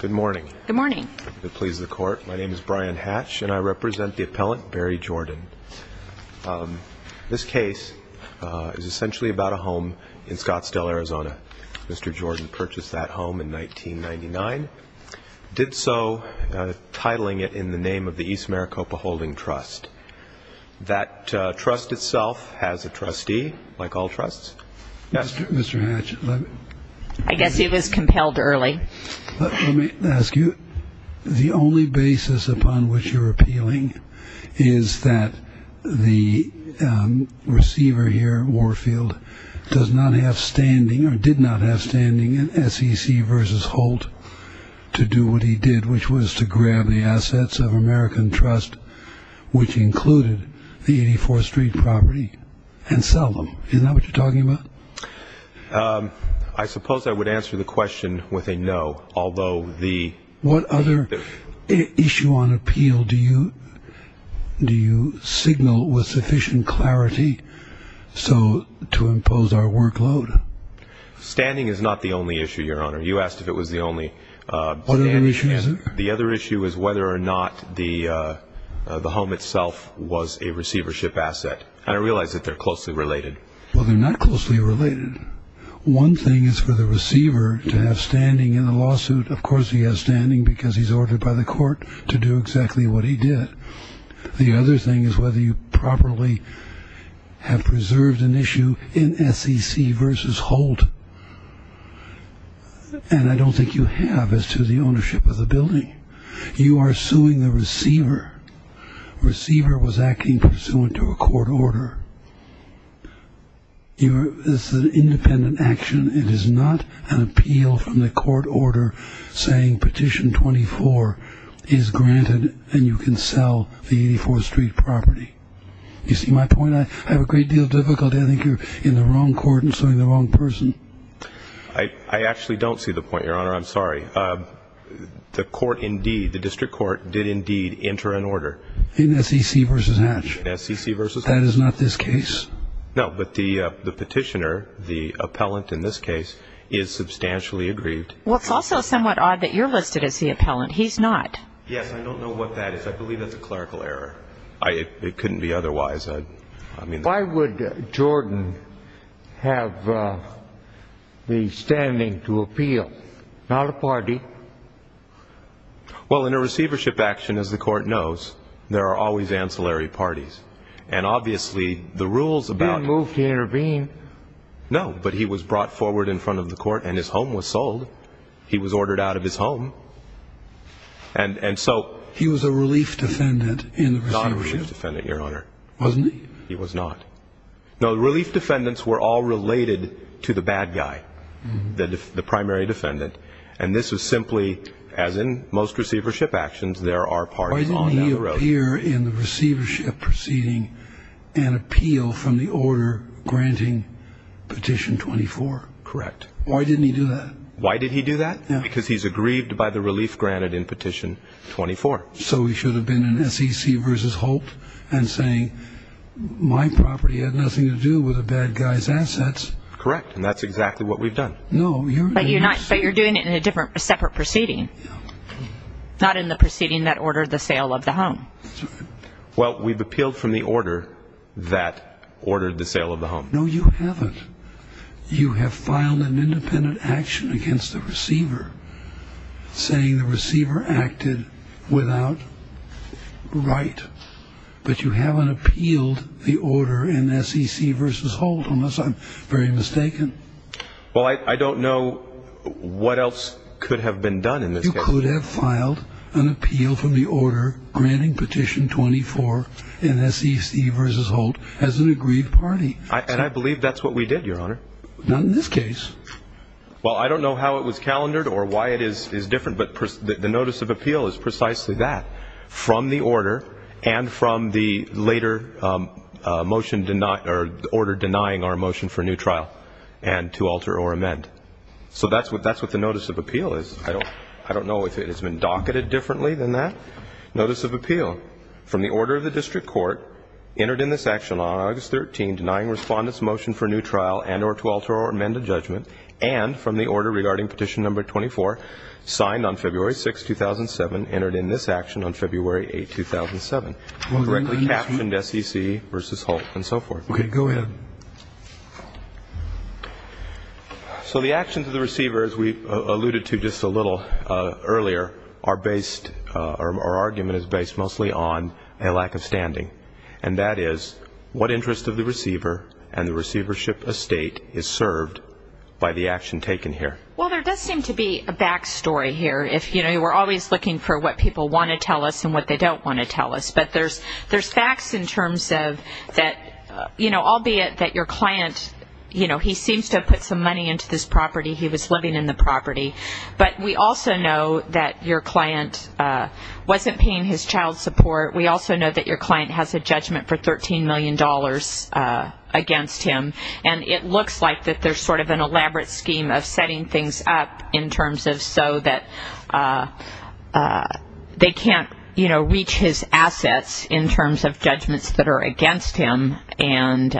Good morning. Good morning. It pleases the Court. My name is Brian Hatch, and I represent the appellant, Barry Jordan. This case is essentially about a home in Scottsdale, Arizona. Mr. Jordan purchased that home in 1999, did so titling it in the name of the East Maricopa Holding Trust. That trust itself has a trustee, like all trusts. Mr. Hatch. I guess he was compelled early. Let me ask you, the only basis upon which you're appealing is that the receiver here, Warfield, does not have standing, or did not have standing, in SEC v. Holt to do what he did, which was to grab the assets of American Trust, which included the 84th Street property, and sell them. Is that what you're talking about? I suppose I would answer the question with a no, although the... What other issue on appeal do you signal with sufficient clarity to impose our workload? Standing is not the only issue, Your Honor. You asked if it was the only standing. The other issue is whether or not the home itself was a receivership asset, and I realize that they're closely related. Well, they're not closely related. One thing is for the receiver to have standing in the lawsuit. Of course, he has standing because he's ordered by the court to do exactly what he did. The other thing is whether you properly have preserved an issue in SEC v. Holt, and I don't think you have as to the ownership of the building. You are suing the receiver. Receiver was acting pursuant to a court order. This is an independent action. It is not an appeal from the court order saying Petition 24 is granted and you can sell the 84th Street property. You see my point? I have a great deal of difficulty. I think you're in the wrong court and suing the wrong person. I actually don't see the point, Your Honor. I'm sorry. The court indeed, the district court did indeed enter an order. In SEC v. Hatch? In SEC v. Hatch. That is not this case? No, but the petitioner, the appellant in this case, is substantially aggrieved. Well, it's also somewhat odd that you're listed as the appellant. He's not. Yes, I don't know what that is. I believe that's a clerical error. It couldn't be otherwise. Why would Jordan have the standing to appeal? Not a party. Well, in a receivership action, as the court knows, there are always ancillary parties. And obviously the rules about... He didn't move to intervene? No, but he was brought forward in front of the court and his home was sold. He was ordered out of his home. And so... Not a relief defendant, Your Honor. Wasn't he? He was not. No, relief defendants were all related to the bad guy, the primary defendant. And this was simply, as in most receivership actions, there are parties on that road. Why didn't he appear in the receivership proceeding and appeal from the order granting Petition 24? Correct. Why didn't he do that? Why did he do that? Because he's aggrieved by the relief granted in Petition 24. So he should have been in SEC v. Holt and saying, my property had nothing to do with the bad guy's assets. Correct. And that's exactly what we've done. No, you're not. But you're doing it in a separate proceeding. Yeah. Not in the proceeding that ordered the sale of the home. Well, we've appealed from the order that ordered the sale of the home. No, you haven't. You have filed an independent action against the receiver saying the receiver acted without right. But you haven't appealed the order in SEC v. Holt, unless I'm very mistaken. Well, I don't know what else could have been done in this case. You could have filed an appeal from the order granting Petition 24 in SEC v. Holt as an agreed party. And I believe that's what we did, Your Honor. Not in this case. Well, I don't know how it was calendared or why it is different, but the notice of appeal is precisely that, from the order and from the later order denying our motion for a new trial and to alter or amend. So that's what the notice of appeal is. I don't know if it's been docketed differently than that. Notice of appeal, from the order of the district court, entered in this action on August 13, denying respondents' motion for a new trial and or to alter or amend a judgment, and from the order regarding Petition No. 24, signed on February 6, 2007, entered in this action on February 8, 2007, correctly captioned SEC v. Holt, and so forth. Okay, go ahead. So the actions of the receiver, as we alluded to just a little earlier, our argument is based mostly on a lack of standing, and that is what interest of the receiver and the receivership estate is served by the action taken here. Well, there does seem to be a back story here. You know, we're always looking for what people want to tell us and what they don't want to tell us. But there's facts in terms of that, you know, albeit that your client, you know, he seems to have put some money into this property, he was living in the property. But we also know that your client wasn't paying his child support. We also know that your client has a judgment for $13 million against him, and it looks like that there's sort of an elaborate scheme of setting things up in terms of so that they can't, you know, reach his assets in terms of judgments that are against him, and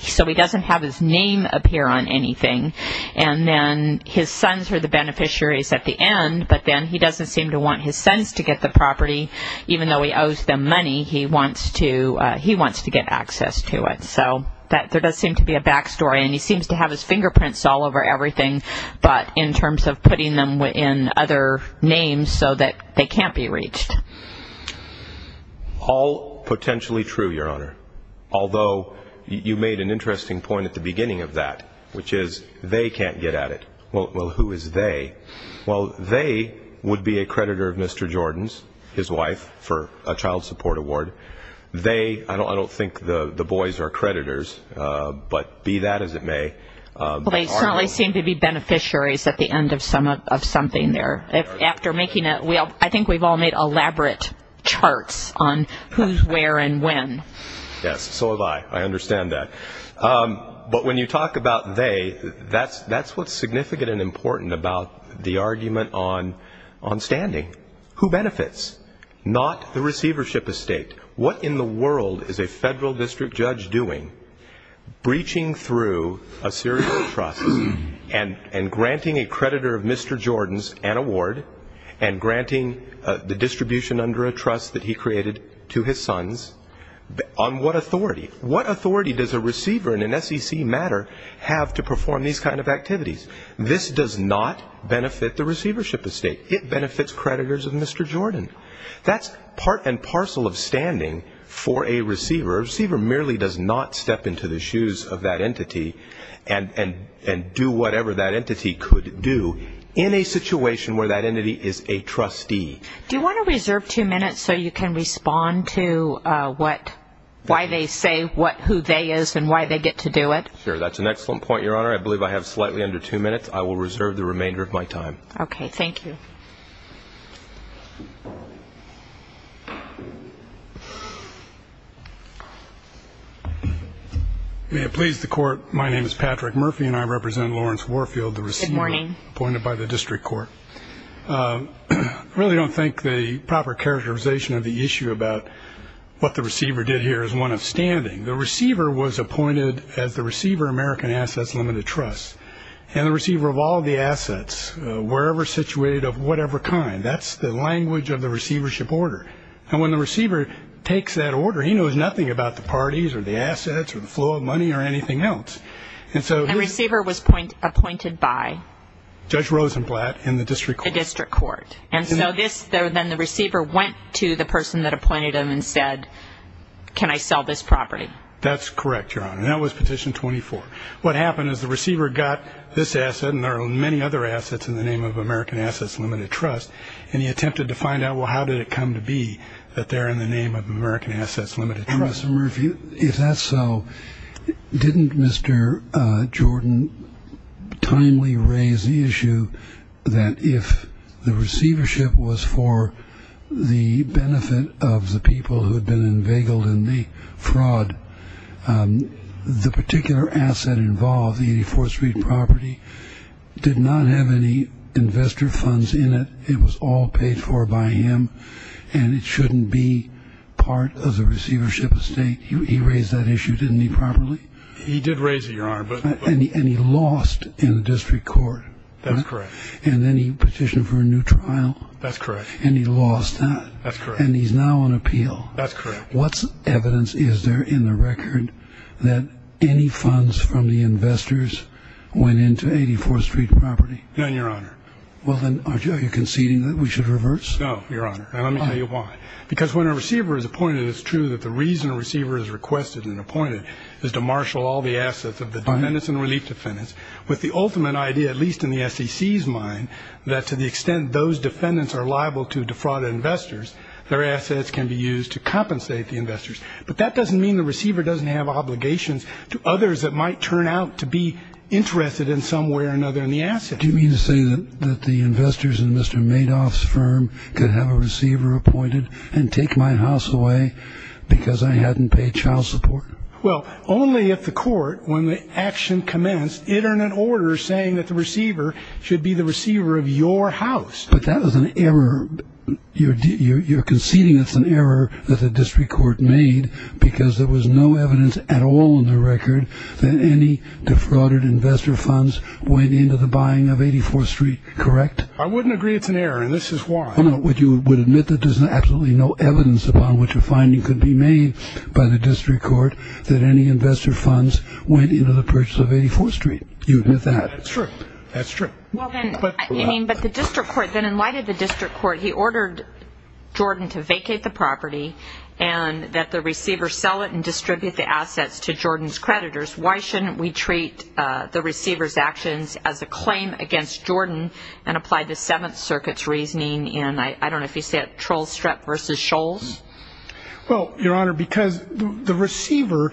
so he doesn't have his name appear on anything. And then his sons are the beneficiaries at the end, but then he doesn't seem to want his sons to get the property. Even though he owes them money, he wants to get access to it. So there does seem to be a back story, and he seems to have his fingerprints all over everything, but in terms of putting them in other names so that they can't be reached. All potentially true, Your Honor, although you made an interesting point at the beginning of that, which is they can't get at it. Well, who is they? Well, they would be a creditor of Mr. Jordan's, his wife, for a child support award. They, I don't think the boys are creditors, but be that as it may. Well, they certainly seem to be beneficiaries at the end of something there. I think we've all made elaborate charts on who's where and when. Yes, so have I. I understand that. But when you talk about they, that's what's significant and important about the argument on standing. Who benefits? Not the receivership estate. What in the world is a federal district judge doing, breaching through a series of trusts and granting a creditor of Mr. Jordan's an award and granting the distribution under a trust that he created to his sons? On what authority? What authority does a receiver in an SEC matter have to perform these kind of activities? This does not benefit the receivership estate. It benefits creditors of Mr. Jordan. That's part and parcel of standing for a receiver. A receiver merely does not step into the shoes of that entity and do whatever that entity could do in a situation where that entity is a trustee. Do you want to reserve two minutes so you can respond to why they say who they is and why they get to do it? Sure. That's an excellent point, Your Honor. I believe I have slightly under two minutes. I will reserve the remainder of my time. Okay. Thank you. May it please the Court, my name is Patrick Murphy, and I represent Lawrence Warfield, the receiver. Good morning. Appointed by the district court. I really don't think the proper characterization of the issue about what the receiver did here is one of standing. The receiver was appointed as the receiver of American Assets Limited Trusts, and the receiver of all the assets, wherever situated of whatever kind. That's the language of the receivership order. And when the receiver takes that order, he knows nothing about the parties or the assets or the flow of money or anything else. And the receiver was appointed by? Judge Rosenblatt in the district court. The district court. And so then the receiver went to the person that appointed him and said, can I sell this property? That's correct, Your Honor, and that was Petition 24. What happened is the receiver got this asset, and there are many other assets in the name of American Assets Limited Trusts, and he attempted to find out, well, how did it come to be that they're in the name of American Assets Limited Trusts? If that's so, didn't Mr. Jordan timely raise the issue that if the receivership was for the benefit of the people who had been inveigled in the fraud, the particular asset involved, the 84th Street property, did not have any investor funds in it. It was all paid for by him, and it shouldn't be part of the receivership estate. He raised that issue, didn't he, properly? He did raise it, Your Honor. And he lost in the district court. That's correct. And then he petitioned for a new trial. That's correct. And he lost that. That's correct. And he's now on appeal. That's correct. What evidence is there in the record that any funds from the investors went into 84th Street property? None, Your Honor. Well, then, are you conceding that we should reverse? No, Your Honor, and let me tell you why. Because when a receiver is appointed, it's true that the reason a receiver is requested and appointed is to marshal all the assets of the defendants and relief defendants with the ultimate idea, at least in the SEC's mind, that to the extent those defendants are liable to defraud investors, their assets can be used to compensate the investors. But that doesn't mean the receiver doesn't have obligations to others that might turn out to be interested in some way or another in the assets. What do you mean to say that the investors in Mr. Madoff's firm could have a receiver appointed and take my house away because I hadn't paid child support? Well, only if the court, when the action commenced, entered an order saying that the receiver should be the receiver of your house. But that was an error. You're conceding it's an error that the district court made because there was no evidence at all in the record that any defrauded investor funds went into the buying of 84th Street, correct? I wouldn't agree it's an error, and this is why. Would you admit that there's absolutely no evidence upon which a finding could be made by the district court that any investor funds went into the purchase of 84th Street? You admit that? That's true. That's true. But the district court, then in light of the district court, he ordered Jordan to vacate the property and that the receiver sell it and distribute the assets to Jordan's creditors. Why shouldn't we treat the receiver's actions as a claim against Jordan and apply the Seventh Circuit's reasoning in, I don't know if you say it, Troll Strep v. Shoals? Well, Your Honor, because the receiver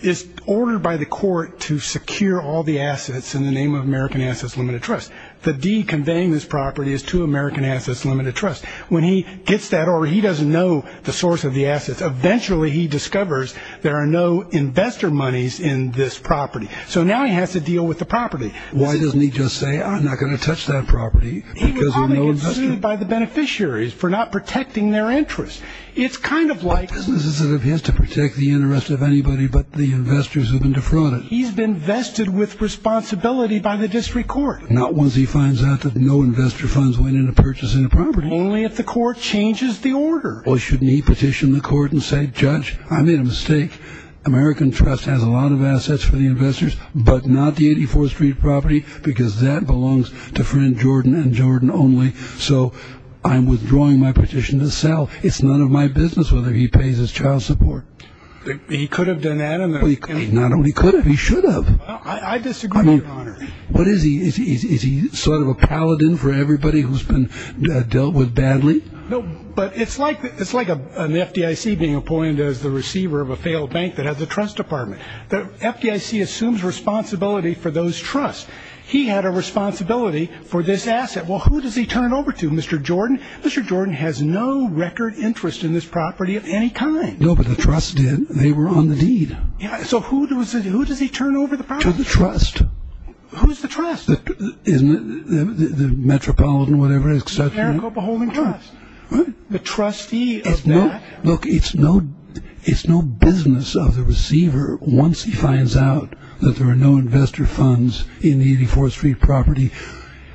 is ordered by the court to secure all the assets in the name of American Assets Limited Trust. The deed conveying this property is to American Assets Limited Trust. When he gets that order, he doesn't know the source of the assets. Eventually, he discovers there are no investor monies in this property. So now he has to deal with the property. Why doesn't he just say, I'm not going to touch that property? He would probably get sued by the beneficiaries for not protecting their interest. It's kind of like He has to protect the interest of anybody, but the investors have been defrauded. He's been vested with responsibility by the district court. Not once he finds out that no investor funds went into purchasing the property. Only if the court changes the order. Well, shouldn't he petition the court and say, Judge, I made a mistake. American Trust has a lot of assets for the investors, but not the 84th Street property because that belongs to friend Jordan and Jordan only. So I'm withdrawing my petition to sell. It's none of my business whether he pays his child support. He could have done that. I disagree, Your Honor. What is he? Is he sort of a paladin for everybody who's been dealt with badly? No, but it's like it's like an FDIC being appointed as the receiver of a failed bank that has a trust department. The FDIC assumes responsibility for those trusts. He had a responsibility for this asset. Well, who does he turn it over to, Mr. Jordan? Mr. Jordan has no record interest in this property of any kind. No, but the trust did. So who does he turn over the property to? To the trust. Who's the trust? Isn't it the Metropolitan or whatever? The AmeriCorps Beholden Trust. What? The trustee of that. Look, it's no business of the receiver. Once he finds out that there are no investor funds in the 84th Street property,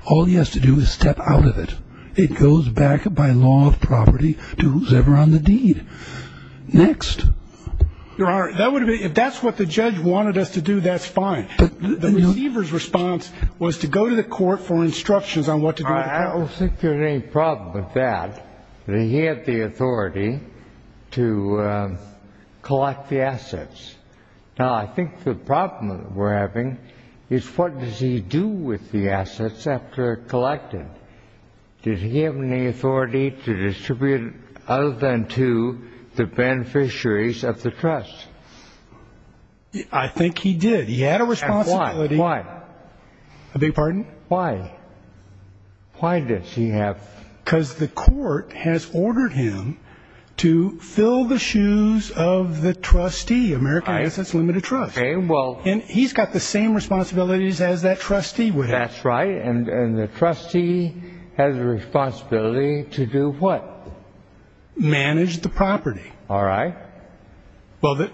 all he has to do is step out of it. It goes back by law of property to who's ever on the deed. Next. Your Honor, if that's what the judge wanted us to do, that's fine. The receiver's response was to go to the court for instructions on what to do with the property. I don't think there's any problem with that. He had the authority to collect the assets. Now, I think the problem we're having is what does he do with the assets after collecting? Does he have any authority to distribute other than to the beneficiaries of the trust? I think he did. He had a responsibility. Why? I beg your pardon? Why? Why does he have? Because the court has ordered him to fill the shoes of the trustee, American Innocence Limited Trust. And he's got the same responsibilities as that trustee would have. That's right. And the trustee has a responsibility to do what? Manage the property. All right. The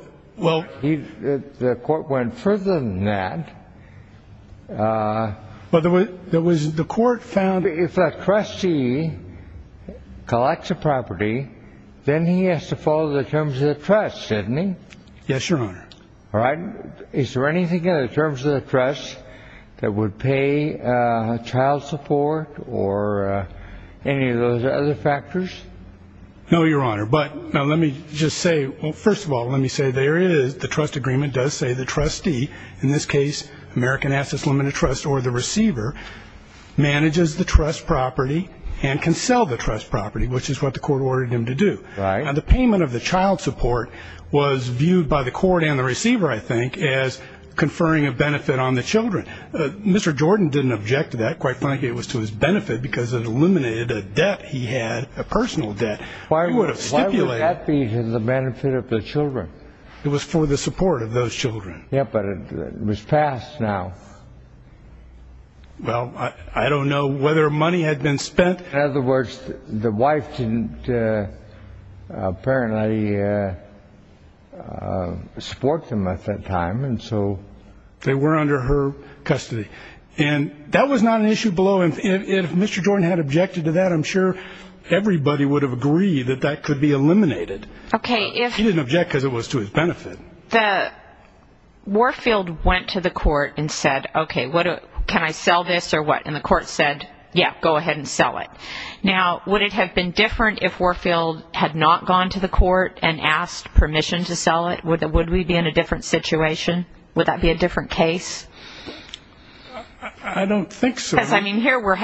court went further than that. The court found... If a trustee collects a property, then he has to follow the terms of the trust, doesn't he? Yes, Your Honor. All right. Is there anything in the terms of the trust that would pay child support or any of those other factors? No, Your Honor. But now let me just say, well, first of all, let me say there is the trust agreement does say the trustee, in this case, American Innocence Limited Trust, or the receiver, manages the trust property and can sell the trust property, which is what the court ordered him to do. Right. Now, the payment of the child support was viewed by the court and the receiver, I think, as conferring a benefit on the children. Mr. Jordan didn't object to that. Quite frankly, it was to his benefit because it eliminated a debt he had, a personal debt. Why would that be to the benefit of the children? It was for the support of those children. Yeah, but it was passed now. Well, I don't know whether money had been spent. In other words, the wife didn't apparently support them at that time. And so they were under her custody. And that was not an issue below. And if Mr. Jordan had objected to that, I'm sure everybody would have agreed that that could be eliminated. Okay. He didn't object because it was to his benefit. Warfield went to the court and said, okay, can I sell this or what? And the court said, yeah, go ahead and sell it. Now, would it have been different if Warfield had not gone to the court and asked permission to sell it? Would we be in a different situation? Would that be a different case? I don't think so. Because, I mean, here we're,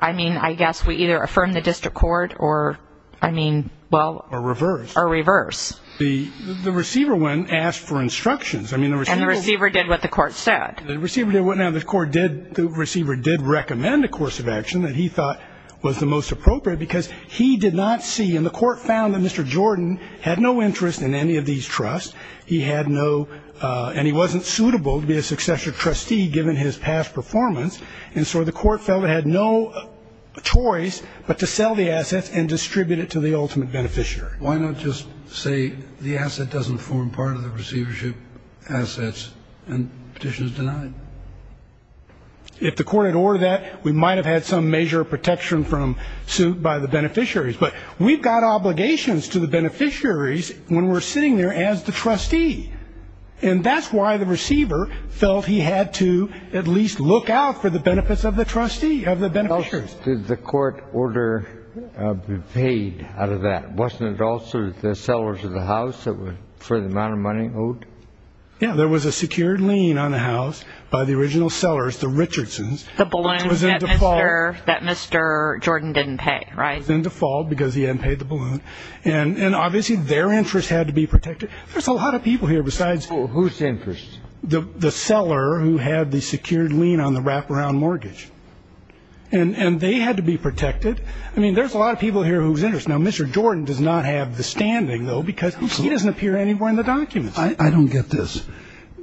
I mean, I guess we either affirm the district court or, I mean, well. Or reverse. Or reverse. The receiver went and asked for instructions. And the receiver did what the court said. The receiver did what the court did. The receiver did recommend a course of action that he thought was the most appropriate because he did not see. And the court found that Mr. Jordan had no interest in any of these trusts. He had no, and he wasn't suitable to be a successor trustee given his past performance. And so the court felt it had no choice but to sell the assets and distribute it to the ultimate beneficiary. Why not just say the asset doesn't form part of the receivership assets and petition is denied? If the court had ordered that, we might have had some major protection from suit by the beneficiaries. But we've got obligations to the beneficiaries when we're sitting there as the trustee. And that's why the receiver felt he had to at least look out for the benefits of the trustee, of the beneficiaries. Did the court order be paid out of that? Wasn't it also the sellers of the house that were for the amount of money owed? Yeah. There was a secured lien on the house by the original sellers, the Richardsons. The balloon that Mr. Jordan didn't pay, right? It was in default because he hadn't paid the balloon. And obviously their interest had to be protected. There's a lot of people here besides. Whose interest? The seller who had the secured lien on the wraparound mortgage. And they had to be protected. I mean, there's a lot of people here whose interest. Now, Mr. Jordan does not have the standing, though, because he doesn't appear anywhere in the documents. I don't get this.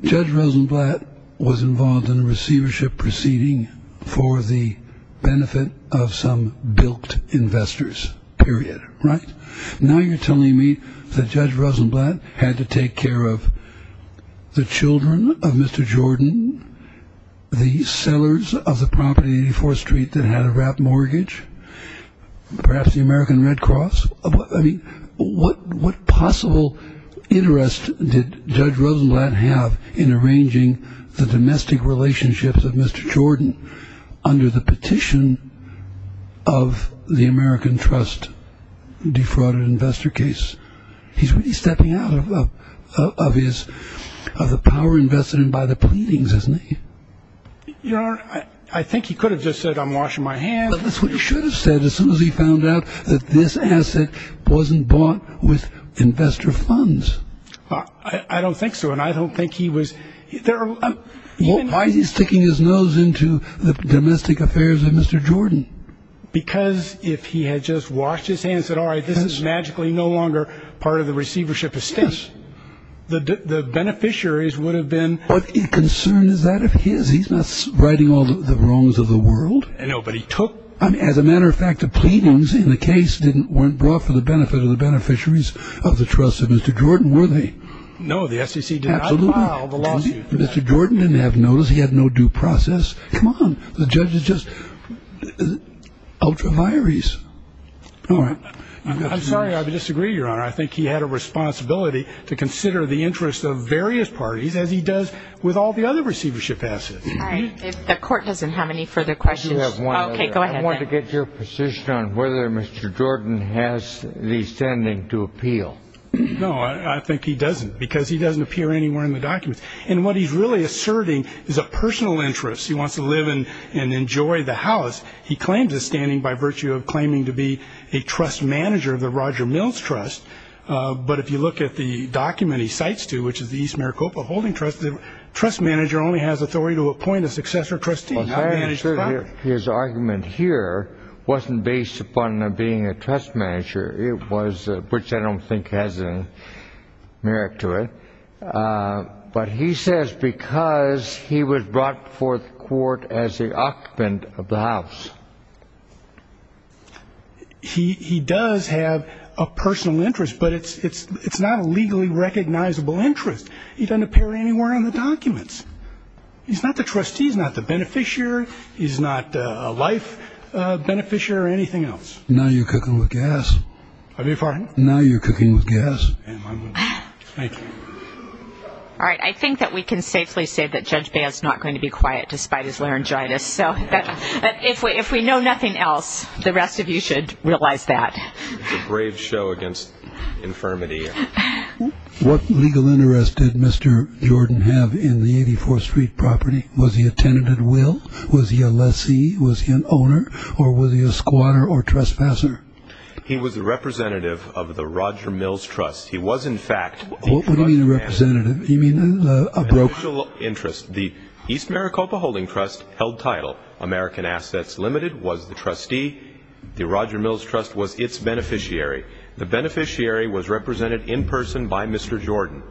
Judge Rosenblatt was involved in a receivership proceeding for the benefit of some bilked investors. Period. Right. Now you're telling me that Judge Rosenblatt had to take care of the children of Mr. Jordan, the sellers of the property on 84th Street that had a wrapped mortgage, perhaps the American Red Cross? I mean, what possible interest did Judge Rosenblatt have in arranging the domestic relationships of Mr. Jordan under the petition of the American Trust defrauded investor case? He's really stepping out of the power invested in by the pleadings, isn't he? Your Honor, I think he could have just said, I'm washing my hands. But that's what he should have said as soon as he found out that this asset wasn't bought with investor funds. I don't think so. And I don't think he was. Why is he sticking his nose into the domestic affairs of Mr. Jordan? Because if he had just washed his hands and said, all right, this is magically no longer part of the receivership estate. Yes. The beneficiaries would have been. What concern is that of his? He's not writing all the wrongs of the world. I know, but he took. As a matter of fact, the pleadings in the case didn't weren't brought for the benefit of the beneficiaries of the trust of Mr. Jordan, were they? No, the SEC did not file the lawsuit. Mr. Jordan didn't have notice. He had no due process. Come on. The judge is just ultra vires. All right. I'm sorry. I disagree, Your Honor. I think he had a responsibility to consider the interests of various parties, as he does with all the other receivership assets. The court doesn't have any further questions. OK, go ahead. I want to get your position on whether Mr. Jordan has the standing to appeal. No, I think he doesn't, because he doesn't appear anywhere in the documents. And what he's really asserting is a personal interest. He wants to live in and enjoy the house. He claims his standing by virtue of claiming to be a trust manager of the Roger Mills Trust. But if you look at the document he cites to, which is the East Maricopa Holding Trust, the trust manager only has authority to appoint a successor trustee. His argument here wasn't based upon being a trust manager. It was, which I don't think has any merit to it. But he says because he was brought forth to court as the occupant of the house. He does have a personal interest, but it's not a legally recognizable interest. He doesn't appear anywhere in the documents. He's not the trustee. He's not the beneficiary. He's not a life beneficiary or anything else. Now you're cooking with gas. I beg your pardon? Now you're cooking with gas. Thank you. All right, I think that we can safely say that Judge Baird is not going to be quiet despite his laryngitis. So if we know nothing else, the rest of you should realize that. It's a brave show against infirmity. What legal interest did Mr. Jordan have in the 84th Street property? Was he a tenanted will? Was he a lessee? Was he an owner? Or was he a squatter or trespasser? He was a representative of the Roger Mills Trust. He was, in fact, the trust manager. What do you mean a representative? Do you mean a broker? An official interest. The East Maricopa Holding Trust held title. American Assets Limited was the trustee. The Roger Mills Trust was its beneficiary. The beneficiary was represented in person by Mr. Jordan.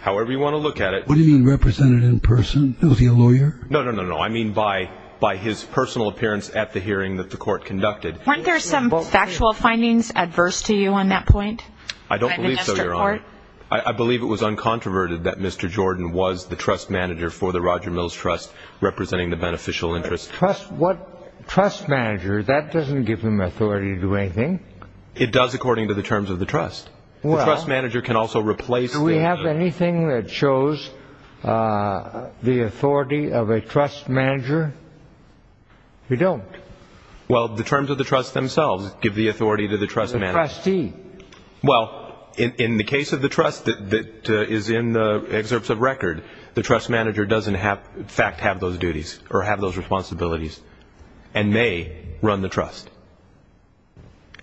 However you want to look at it... What do you mean represented in person? Was he a lawyer? No, no, no, no. I mean by his personal appearance at the hearing that the court conducted. Weren't there some factual findings adverse to you on that point? I don't believe so, Your Honor. I believe it was uncontroverted that Mr. Jordan was the trust manager for the Roger Mills Trust, representing the beneficial interest. Trust manager? That doesn't give him authority to do anything. It does according to the terms of the trust. The trust manager can also replace... Do we have anything that shows the authority of a trust manager? We don't. Well, the terms of the trust themselves give the authority to the trust manager. The trustee. Well, in the case of the trust that is in the excerpts of record, the trust manager doesn't in fact have those duties or have those responsibilities, and they run the trust.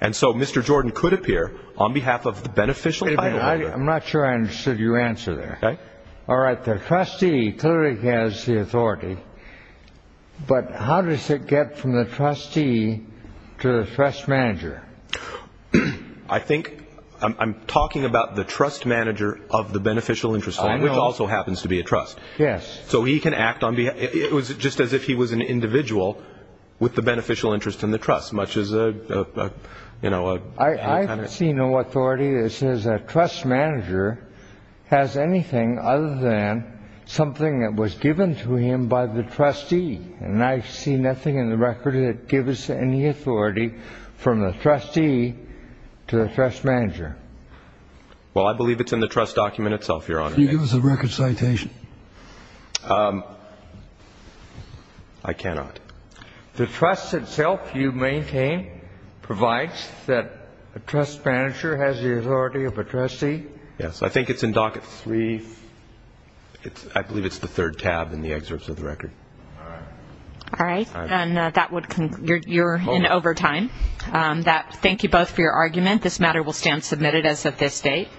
And so Mr. Jordan could appear on behalf of the beneficial title holder. I'm not sure I understood your answer there. Okay. All right, the trustee clearly has the authority, but how does it get from the trustee to the trust manager? I think I'm talking about the trust manager of the beneficial interest firm, which also happens to be a trust. Yes. So he can act on behalf. It was just as if he was an individual with the beneficial interest in the trust, much as, you know, a kind of... I see no authority that says a trust manager has anything other than something that was given to him by the trustee, and I see nothing in the record that gives any authority from the trustee to the trust manager. Well, I believe it's in the trust document itself, Your Honor. Can you give us a record citation? I cannot. The trust itself you maintain provides that a trust manager has the authority of a trustee? Yes. I think it's in Docket 3. I believe it's the third tab in the excerpts of the record. All right. All right. And that would conclude. You're in overtime. Thank you both for your argument. This matter will stand submitted as of this date.